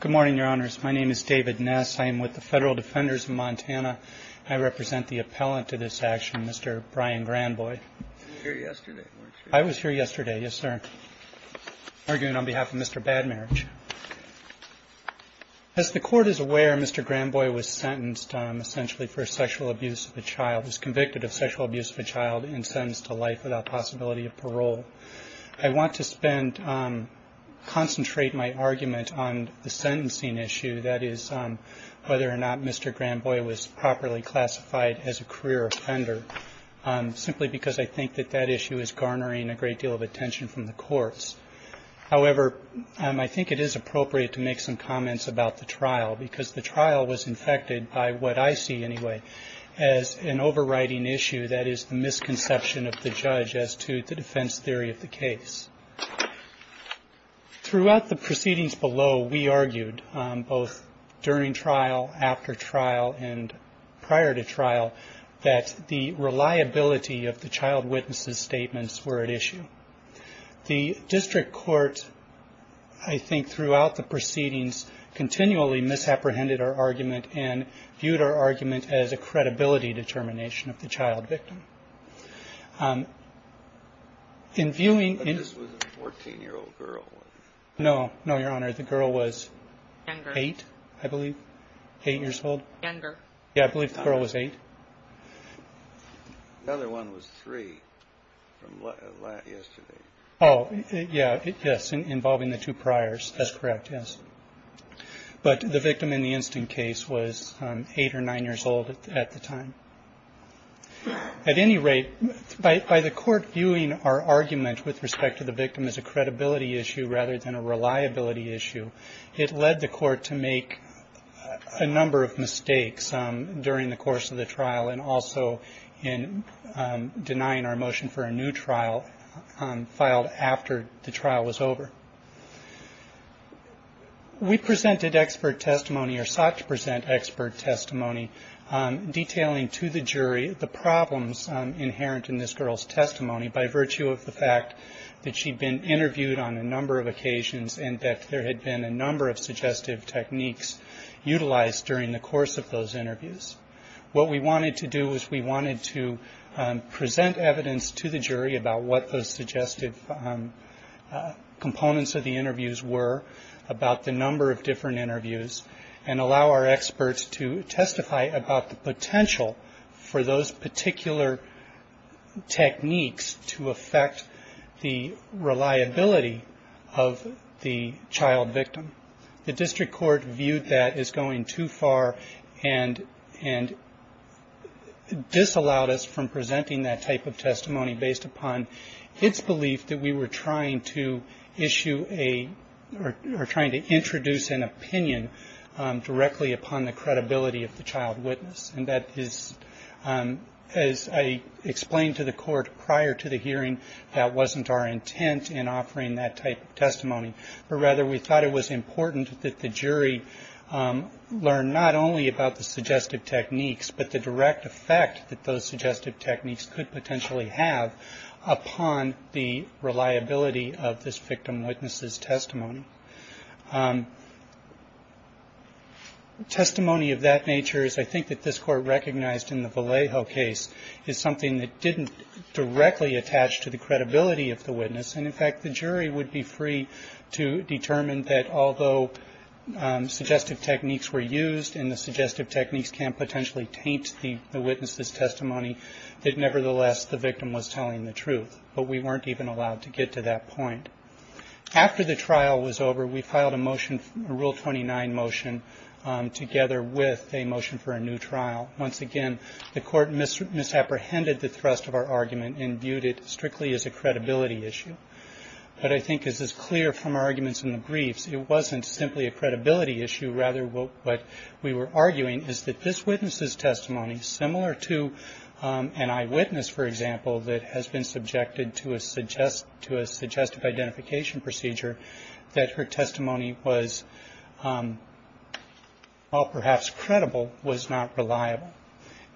Good morning, Your Honors. My name is David Ness. I am with the Federal Defenders of Montana. I represent the appellant to this action, Mr. Brian Granbois. You were here yesterday, weren't you? I was here yesterday, yes, sir, arguing on behalf of Mr. Bad Marriage. As the Court is aware, Mr. Granbois was sentenced essentially for sexual abuse of a child, was convicted of sexual abuse of a child and sentenced to life without possibility of parole. I want to concentrate my argument on the sentencing issue, that is whether or not Mr. Granbois was properly classified as a career offender, simply because I think that that issue is garnering a great deal of attention from the courts. However, I think it is appropriate to make some comments about the trial, because the trial was infected by what I see anyway as an overriding issue, that is the misconception of the judge as to the defense theory of the case. Throughout the proceedings below, we argued, both during trial, after trial and prior to trial, that the reliability of the child witnesses' statements were at issue. The district court, I think, throughout the proceedings, continually misapprehended our argument and viewed our argument as a credibility determination of the child victim. But this was a 14-year-old girl, wasn't it? No, no, Your Honor, the girl was eight, I believe, eight years old. Younger. Yeah, I believe the girl was eight. Another one was three from yesterday. Oh, yeah, yes, involving the two priors. That's correct, yes. But the victim in the instant case was eight or nine years old at the time. At any rate, by the court viewing our argument with respect to the victim as a credibility issue rather than a reliability issue, it led the court to make a number of mistakes during the course of the trial and also in denying our motion for a new trial filed after the trial was over. We presented expert testimony or sought to present expert testimony detailing to the jury the problems inherent in this girl's testimony by virtue of the fact that she'd been interviewed on a number of occasions and that there had been a number of suggestive techniques utilized during the course of those interviews. What we wanted to do was we wanted to present evidence to the jury about what those suggestive components of the interviews were, about the number of different interviews, and allow our experts to testify about the potential for those particular techniques to affect the reliability of the child victim. The district court viewed that as going too far and disallowed us from presenting that type of testimony based upon its belief that we were trying to issue a or trying to introduce an opinion directly upon the credibility of the child witness. And that is, as I explained to the court prior to the hearing, that wasn't our intent in offering that type of testimony, but rather we thought it was important that the jury learn not only about the suggestive techniques but the direct effect that those suggestive techniques could potentially have upon the reliability of this victim witness's testimony. Testimony of that nature, as I think that this court recognized in the Vallejo case, is something that didn't directly attach to the credibility of the witness. And, in fact, the jury would be free to determine that although suggestive techniques were used and the suggestive techniques can potentially taint the witness's testimony, that nevertheless the victim was telling the truth. But we weren't even allowed to get to that point. After the trial was over, we filed a motion, a Rule 29 motion, together with a motion for a new trial. Once again, the court misapprehended the thrust of our argument and viewed it strictly as a credibility issue. But I think this is clear from our arguments in the briefs. It wasn't simply a credibility issue. Rather, what we were arguing is that this witness's testimony, similar to an eyewitness, for example, that has been subjected to a suggestive identification procedure, that her testimony was, while perhaps credible, was not reliable.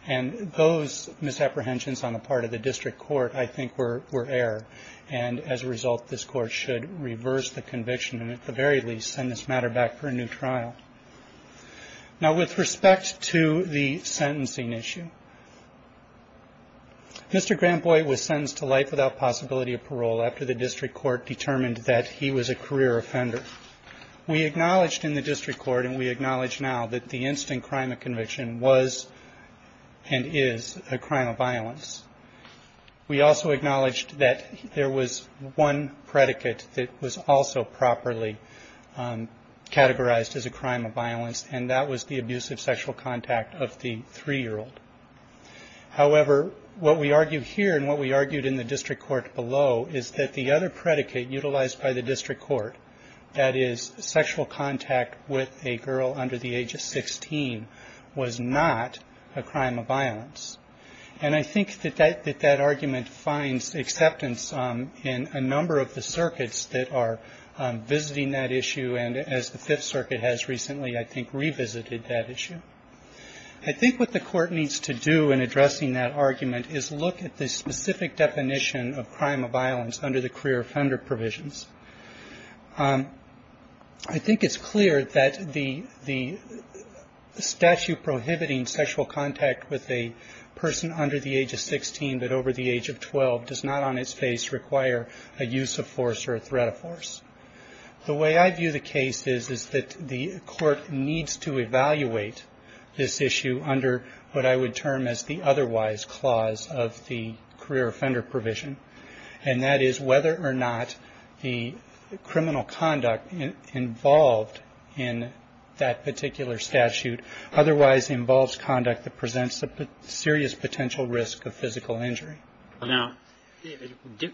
And those misapprehensions on the part of the district court, I think, were error. And, as a result, this court should reverse the conviction and at the very least send this matter back for a new trial. Now, with respect to the sentencing issue, Mr. Granboy was sentenced to life without possibility of parole after the district court determined that he was a career offender. We acknowledged in the district court, and we acknowledge now, that the instant crime of conviction was and is a crime of violence. We also acknowledged that there was one predicate that was also properly categorized as a crime of violence, and that was the abusive sexual contact of the three-year-old. However, what we argue here and what we argued in the district court below is that the other predicate utilized by the district court, that is, sexual contact with a girl under the age of 16, was not a crime of violence. And I think that that argument finds acceptance in a number of the circuits that are visiting that issue, and as the Fifth Circuit has recently, I think, revisited that issue. I think what the court needs to do in addressing that argument is look at the specific definition of crime of violence under the career offender provisions. I think it's clear that the statute prohibiting sexual contact with a person under the age of 16, but over the age of 12, does not on its face require a use of force or a threat of force. The way I view the case is that the court needs to evaluate this issue under what I would term as the otherwise clause of the career offender provision, and that is whether or not the criminal conduct involved in that particular statute otherwise involves conduct that presents a serious potential risk of physical injury. Now,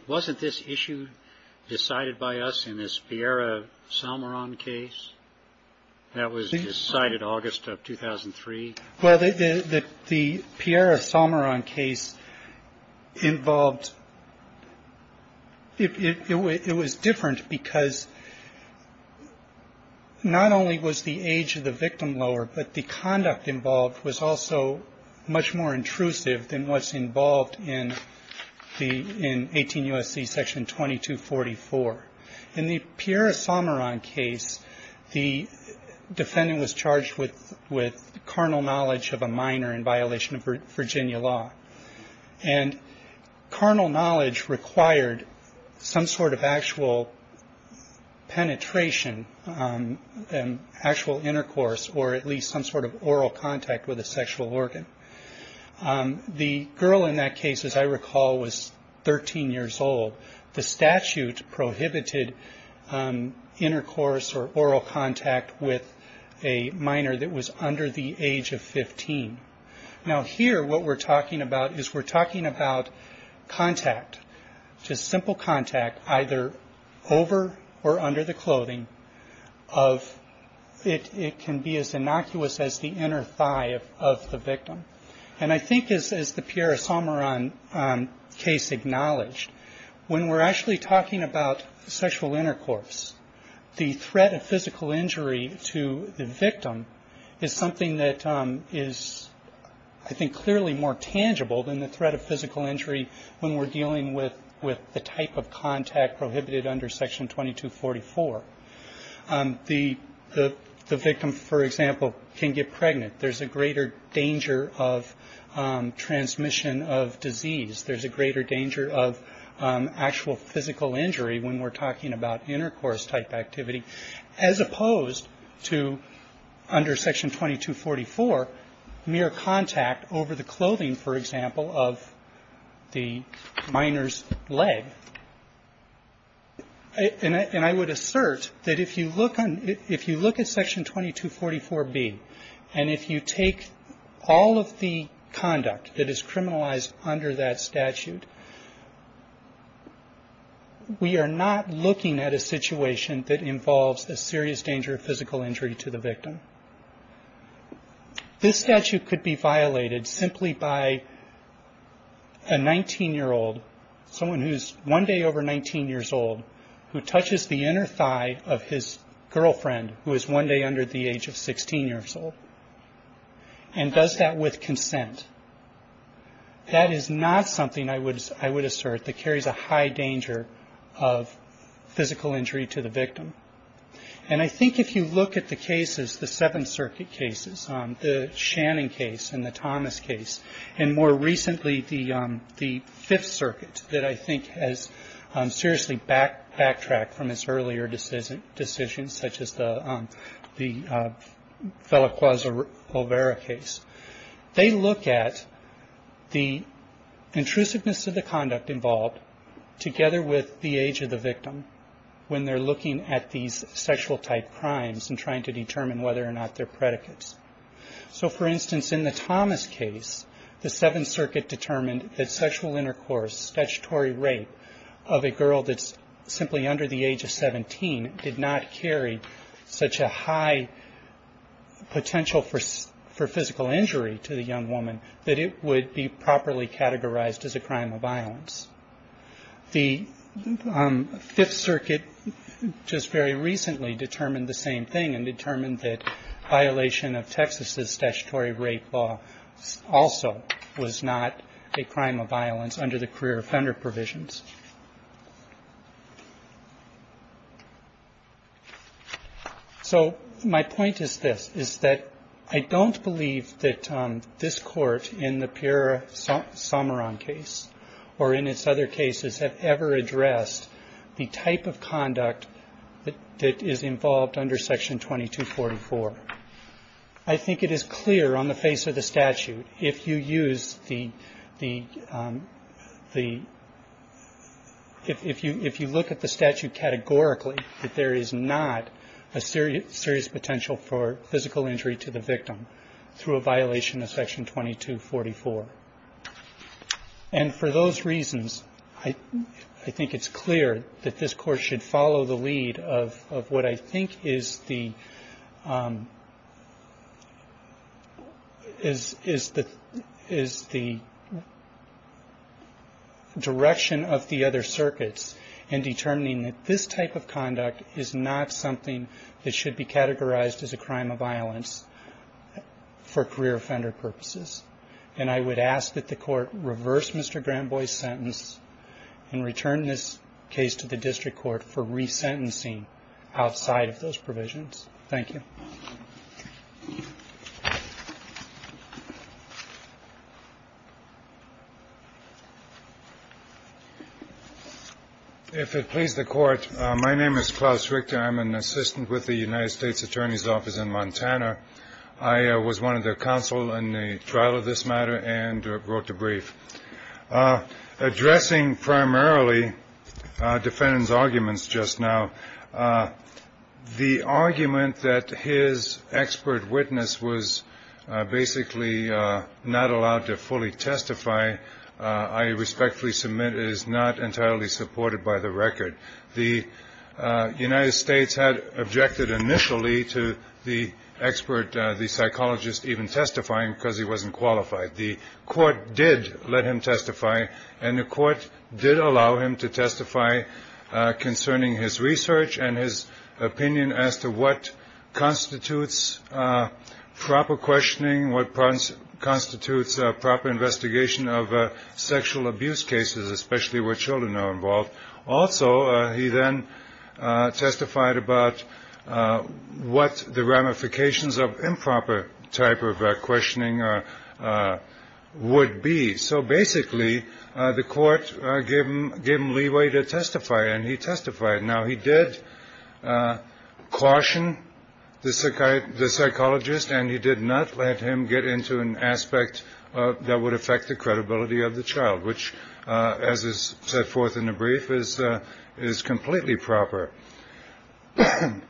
wasn't this issue decided by us in this Piera Salmeron case that was decided August of 2003? Well, the Piera Salmeron case involved – it was different because not only was the age of the victim lower, but the conduct involved was also much more intrusive than what's involved in 18 U.S.C. section 2244. In the Piera Salmeron case, the defendant was charged with carnal knowledge of a minor in violation of Virginia law, and carnal knowledge required some sort of actual penetration and actual intercourse or at least some sort of oral contact with a sexual organ. The girl in that case, as I recall, was 13 years old. The statute prohibited intercourse or oral contact with a minor that was under the age of 15. Now, here what we're talking about is we're talking about contact, just simple contact, either over or under the clothing of – it can be as innocuous as the inner thigh of the victim. And I think, as the Piera Salmeron case acknowledged, when we're actually talking about sexual intercourse, the threat of physical injury to the victim is something that is, I think, clearly more tangible than the threat of physical injury when we're dealing with the type of contact prohibited under section 2244. The victim, for example, can get pregnant. There's a greater danger of transmission of disease. There's a greater danger of actual physical injury when we're talking about intercourse-type activity, as opposed to under section 2244, mere contact over the clothing, for example, of the minor's leg. And I would assert that if you look on – if you look at section 2244B, and if you look at section 2244B, if you take all of the conduct that is criminalized under that statute, we are not looking at a situation that involves a serious danger of physical injury to the victim. This statute could be violated simply by a 19-year-old, someone who's one day over 19 years old, who touches the inner thigh of his girlfriend, who is one day under the age of 16 years old. And does that with consent. That is not something, I would assert, that carries a high danger of physical injury to the victim. And I think if you look at the cases, the Seventh Circuit cases, the Shannon case and the Thomas case, and more recently, the Fifth Circuit, that I think has seriously backtracked from its earlier decisions, such as the feliquas over the leg, the Lovera case, they look at the intrusiveness of the conduct involved, together with the age of the victim, when they're looking at these sexual-type crimes and trying to determine whether or not they're predicates. So, for instance, in the Thomas case, the Seventh Circuit determined that sexual intercourse, statutory rape of a girl that's simply under the age of 17, did not carry such a high potential for physical injury to the victim. For physical injury to the young woman, that it would be properly categorized as a crime of violence. The Fifth Circuit just very recently determined the same thing and determined that violation of Texas's statutory rape law also was not a crime of violence under the career offender provisions. So my point is this, is that I don't believe that this Court, in the Piera-Sommeron case, or in its other cases, have ever addressed the type of conduct that is involved under Section 2244. I think it is clear on the face of the statute, if you use the, the statute categorically, that there is not a serious potential for physical injury to the victim through a violation of Section 2244. And for those reasons, I think it's clear that this Court should follow the lead of what I think is the direction of the other circuits in determining that this type of conduct is not something that should be categorized as a crime of violence for career offender purposes. And I would ask that the Court reverse Mr. Granboy's sentence and return this case to the District Court for resentencing outside of those provisions. Thank you. Mr. Richter. If it pleases the Court, my name is Klaus Richter. I'm an assistant with the United States Attorney's Office in Montana. I was one of their counsel in the trial of this matter and wrote the brief. Addressing primarily defendants' arguments just now, the argument that his expert witness was basically not allowed to fully testify, I respectfully submit, is not entirely supported by the record. The United States had objected initially to the expert, the psychologist, even testifying because he wasn't qualified. The Court did let him testify, and the Court did allow him to testify concerning his record. He did his research and his opinion as to what constitutes proper questioning, what constitutes proper investigation of sexual abuse cases, especially where children are involved. Also, he then testified about what the ramifications of improper type of questioning would be. So basically, the Court gave him leeway to testify, and he testified. Now, he did caution the psychologist, and he did not let him get into an aspect that would affect the credibility of the child, which, as is set forth in the brief, is completely proper. I'm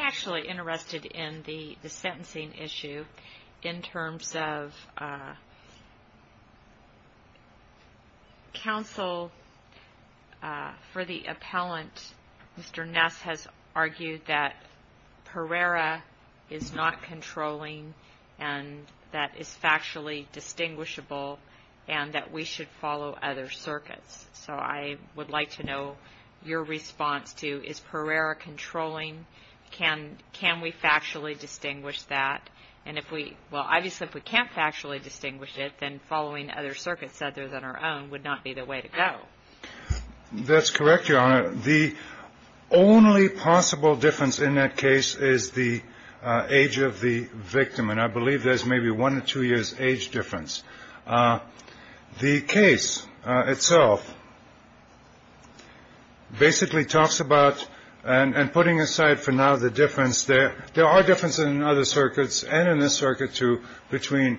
actually interested in the sentencing issue in terms of counsel for the appellant to testify. Mr. Ness has argued that Pereira is not controlling, and that is factually distinguishable, and that we should follow other circuits. So I would like to know your response to, is Pereira controlling? Can we factually distinguish that? And if we – well, obviously, if we can't factually distinguish it, then following other circuits other than our own would not be the way to go. That's correct, Your Honor. The only possible difference in that case is the age of the victim, and I believe there's maybe one or two years age difference. The case itself basically talks about – and putting aside for now the difference there – there are differences in other circuits, and in this circuit, too, between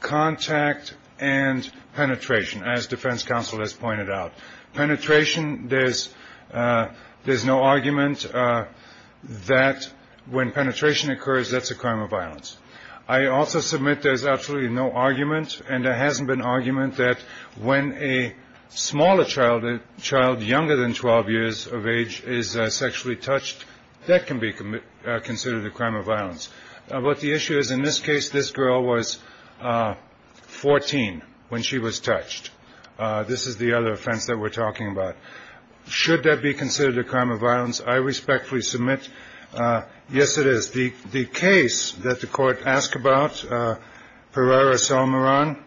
contact and penetration, as defense counsel has pointed out. Penetration, there's no argument that when penetration occurs, that's a crime of violence. I also submit there's absolutely no argument, and there hasn't been argument that when a smaller child, a child younger than 12 years of age, is sexually touched, that can be considered a crime of violence. But the issue is, in this case, this girl was 14 when she was touched. This is the other offense that we're talking about. Should that be considered a crime of violence, I respectfully submit, yes, it is. The case that the Court asked about, Pereira-Salmaran,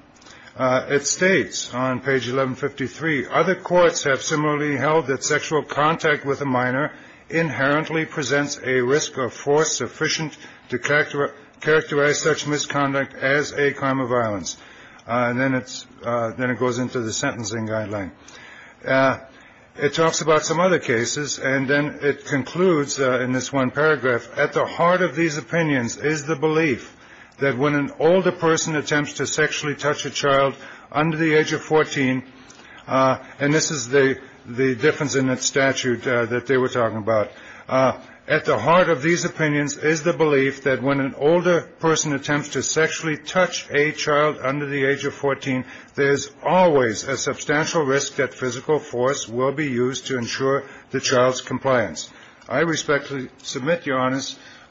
it states on page 1153, Other courts have similarly held that sexual contact with a minor inherently presents a risk of force sufficient to characterize such misconduct as a crime of violence. And then it goes into the sentencing guideline. It talks about some other cases, and then it concludes in this one paragraph, At the heart of these opinions is the belief that when an older person attempts to sexually touch a child under the age of 14 – and this is the difference in that statute that they were talking about – At the heart of these opinions is the belief that when an older person attempts to sexually touch a child under the age of 14, There's always a substantial risk that physical force will be used to ensure the child's compliance. I respectfully submit, Your Honor,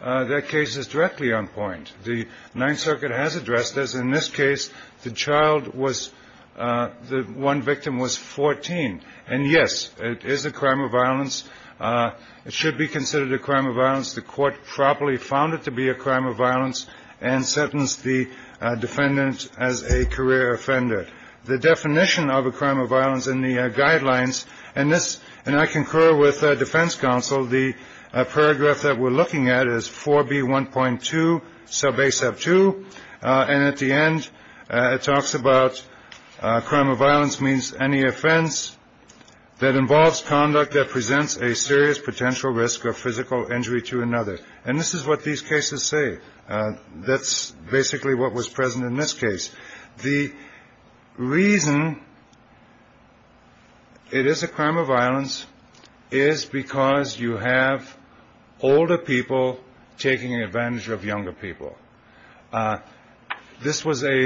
that case is directly on point. The Ninth Circuit has addressed this. In this case, the child was – the one victim was 14. And yes, it is a crime of violence. It should be considered a crime of violence. The Court properly found it to be a crime of violence and sentenced the defendant as a minor. The defendant was a career offender. The definition of a crime of violence in the guidelines – and this – and I concur with Defense Counsel – The paragraph that we're looking at is 4B1.2 sub A sub 2. And at the end, it talks about crime of violence means any offense that involves conduct that presents a serious potential risk of physical injury to another. And this is what these cases say. That's basically what was present in this case. The reason it is a crime of violence is because you have older people taking advantage of younger people. This was an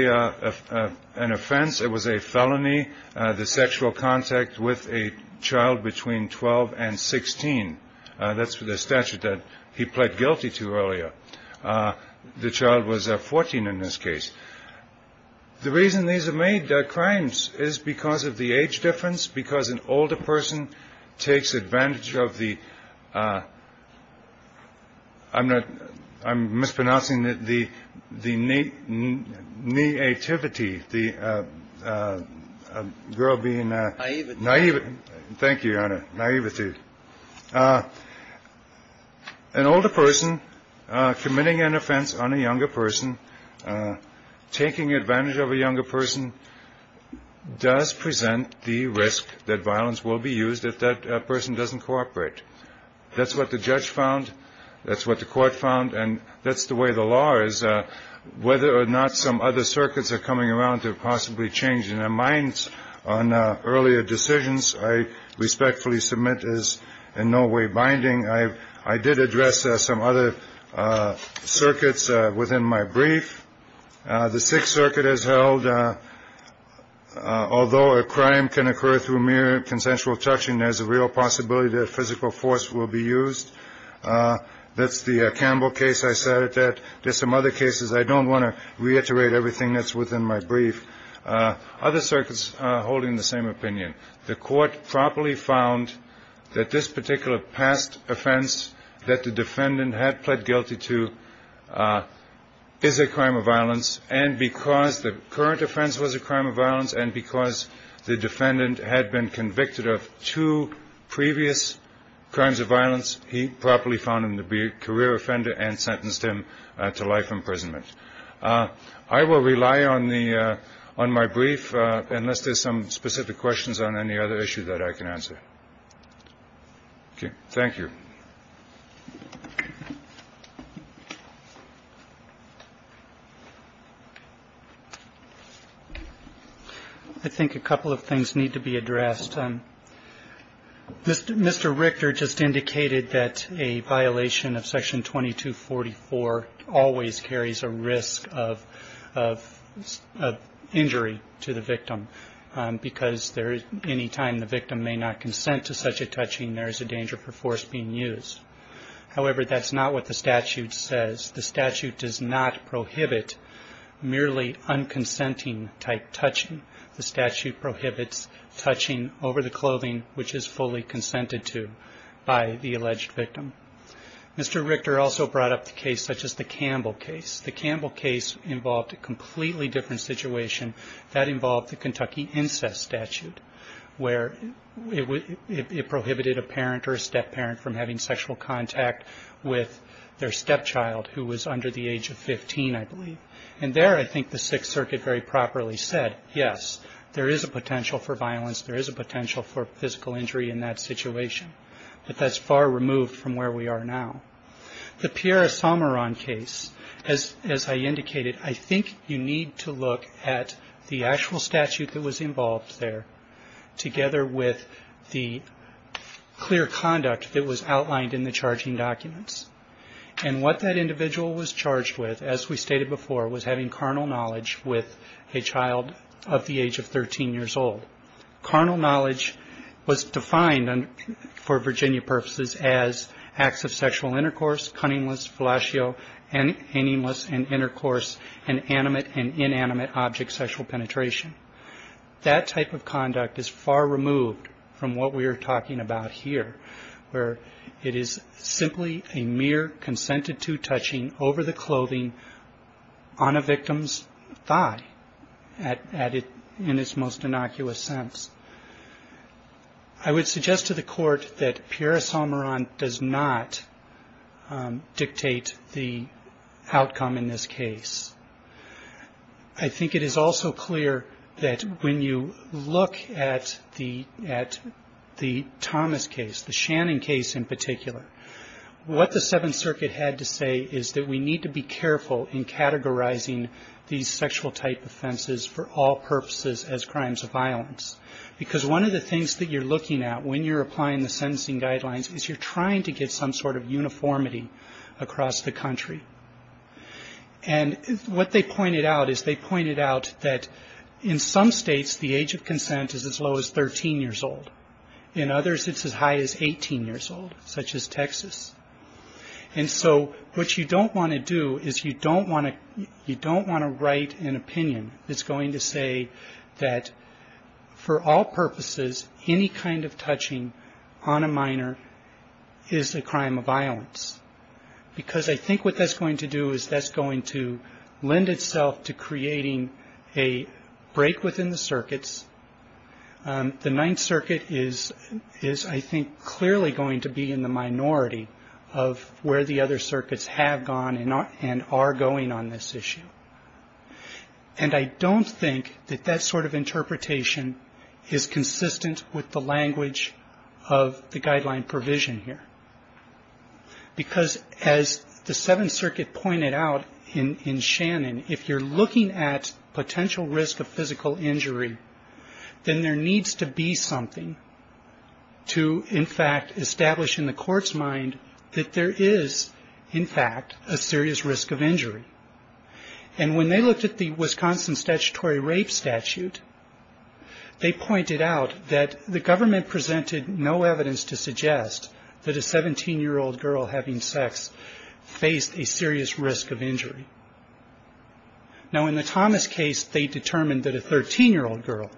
offense. It was a felony, the sexual contact with a child between 12 and 16. That's the statute that he pled guilty to earlier. The child was 14 in this case. The reason these are made crimes is because of the age difference, because an older person takes advantage of the – I'm not – I'm mispronouncing the – the – the nativity, the girl being – Naivety. Thank you, Your Honor. Naivety. An older person committing an offense on a younger person, taking advantage of a younger person, does present the risk that violence will be used if that person doesn't cooperate. That's what the judge found. That's what the court found. And that's the way the law is, whether or not some other circuits are coming around to possibly change their minds on earlier decisions, I respectfully submit is in no way binding. I – I did address some other circuits within my brief. The Sixth Circuit has held, although a crime can occur through mere consensual touching, there's a real possibility that physical force will be used. That's the Campbell case. I said that there's some other cases. I don't want to reiterate everything that's within my brief. Other circuits are holding the same opinion. The court properly found that this particular past offense that the defendant had pled guilty to is a crime of violence, and because the current offense was a crime of violence, and because the defendant had been convicted of two previous crimes of violence, he properly found him to be a career offender and sentenced him to life imprisonment. I will rely on the – on my brief, unless there's some specific questions on any other issue that I can answer. Okay. Thank you. I think a couple of things need to be addressed. I think that a violation of Section 2244 always carries a risk of injury to the victim, because there – any time the victim may not consent to such a touching, there is a danger for force being used. However, that's not what the statute says. The statute does not prohibit merely unconsenting-type touching. The statute prohibits touching over the clothing which is fully consented to by the alleged victim. Mr. Richter also brought up the case such as the Campbell case. The Campbell case involved a completely different situation that involved the Kentucky incest statute, where it prohibited a parent or a step-parent from having sexual contact with their stepchild who was under the age of 15, I believe. And there, I think the Sixth Circuit very properly said, yes, there is a potential for violence, there is a potential for physical injury in that situation, but that's far removed from where we are now. The Pierre Esamaran case, as I indicated, I think you need to look at the actual statute that was involved there, together with the clear conduct that was outlined in the charging documents. And what that individual was charged with, as we stated before, was having carnal knowledge with a child of the age of 13 years old. Carnal knowledge was defined for Virginia purposes as acts of sexual intercourse, cunningness, fellatio, and inanimous and intercourse, and animate and inanimate object sexual penetration. That type of conduct is far removed from what we are talking about here, where it is simply a mere consented-to touching over the clothing on a victim's thigh in its most innocuous sense. I would suggest to the Court that Pierre Esamaran does not dictate the outcome in this case. I think it is also clear that when you look at the Thomas case, the Shannon case in particular, what the Seventh Circuit had to say is that we need to be careful in categorizing these sexual type offenses for all purposes as crimes of violence. Because one of the things that you're looking at when you're applying the sentencing guidelines is you're trying to get some sort of uniformity across the country. And what they pointed out is they pointed out that in some states the age of consent is as low as 13 years old. In others it's as high as 18 years old, such as Texas. And so what you don't want to do is you don't want to write an opinion that's going to say that for all purposes, any kind of touching on a minor, is a crime of violence. Because I think what that's going to do is that's going to lend itself to creating a break within the circuits. The Ninth Circuit is, I think, clearly going to be in the minority of where the other circuits have gone and are going on this issue. And I don't think that that sort of interpretation is consistent with the language of the guideline provision here. Because as the Seventh Circuit pointed out in Shannon, if you're looking at potential risk of physical injury, then there needs to be something to, in fact, establish in the court's mind that there is, in fact, a serious risk of injury. And when they looked at the Wisconsin Statutory Rape Statute, they pointed out that the government presented no evidence to suggest that a 17-year-old girl having sex faced a serious risk of injury. Now in the Thomas case, they determined that a 13-year-old girl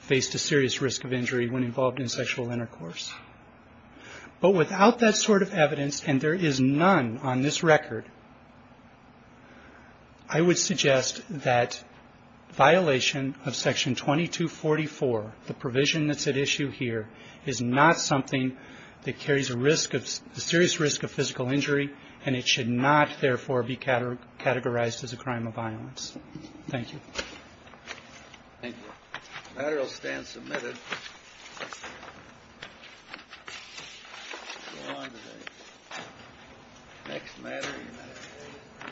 faced a serious risk of injury when involved in sexual intercourse. But without that sort of evidence, and there is none on this record, I would suggest that violation of Section 2244, the provision that's at issue here, is not something that carries a serious risk of physical injury, and it should not, therefore, be categorized as a crime of violence. Thank you. Thank you.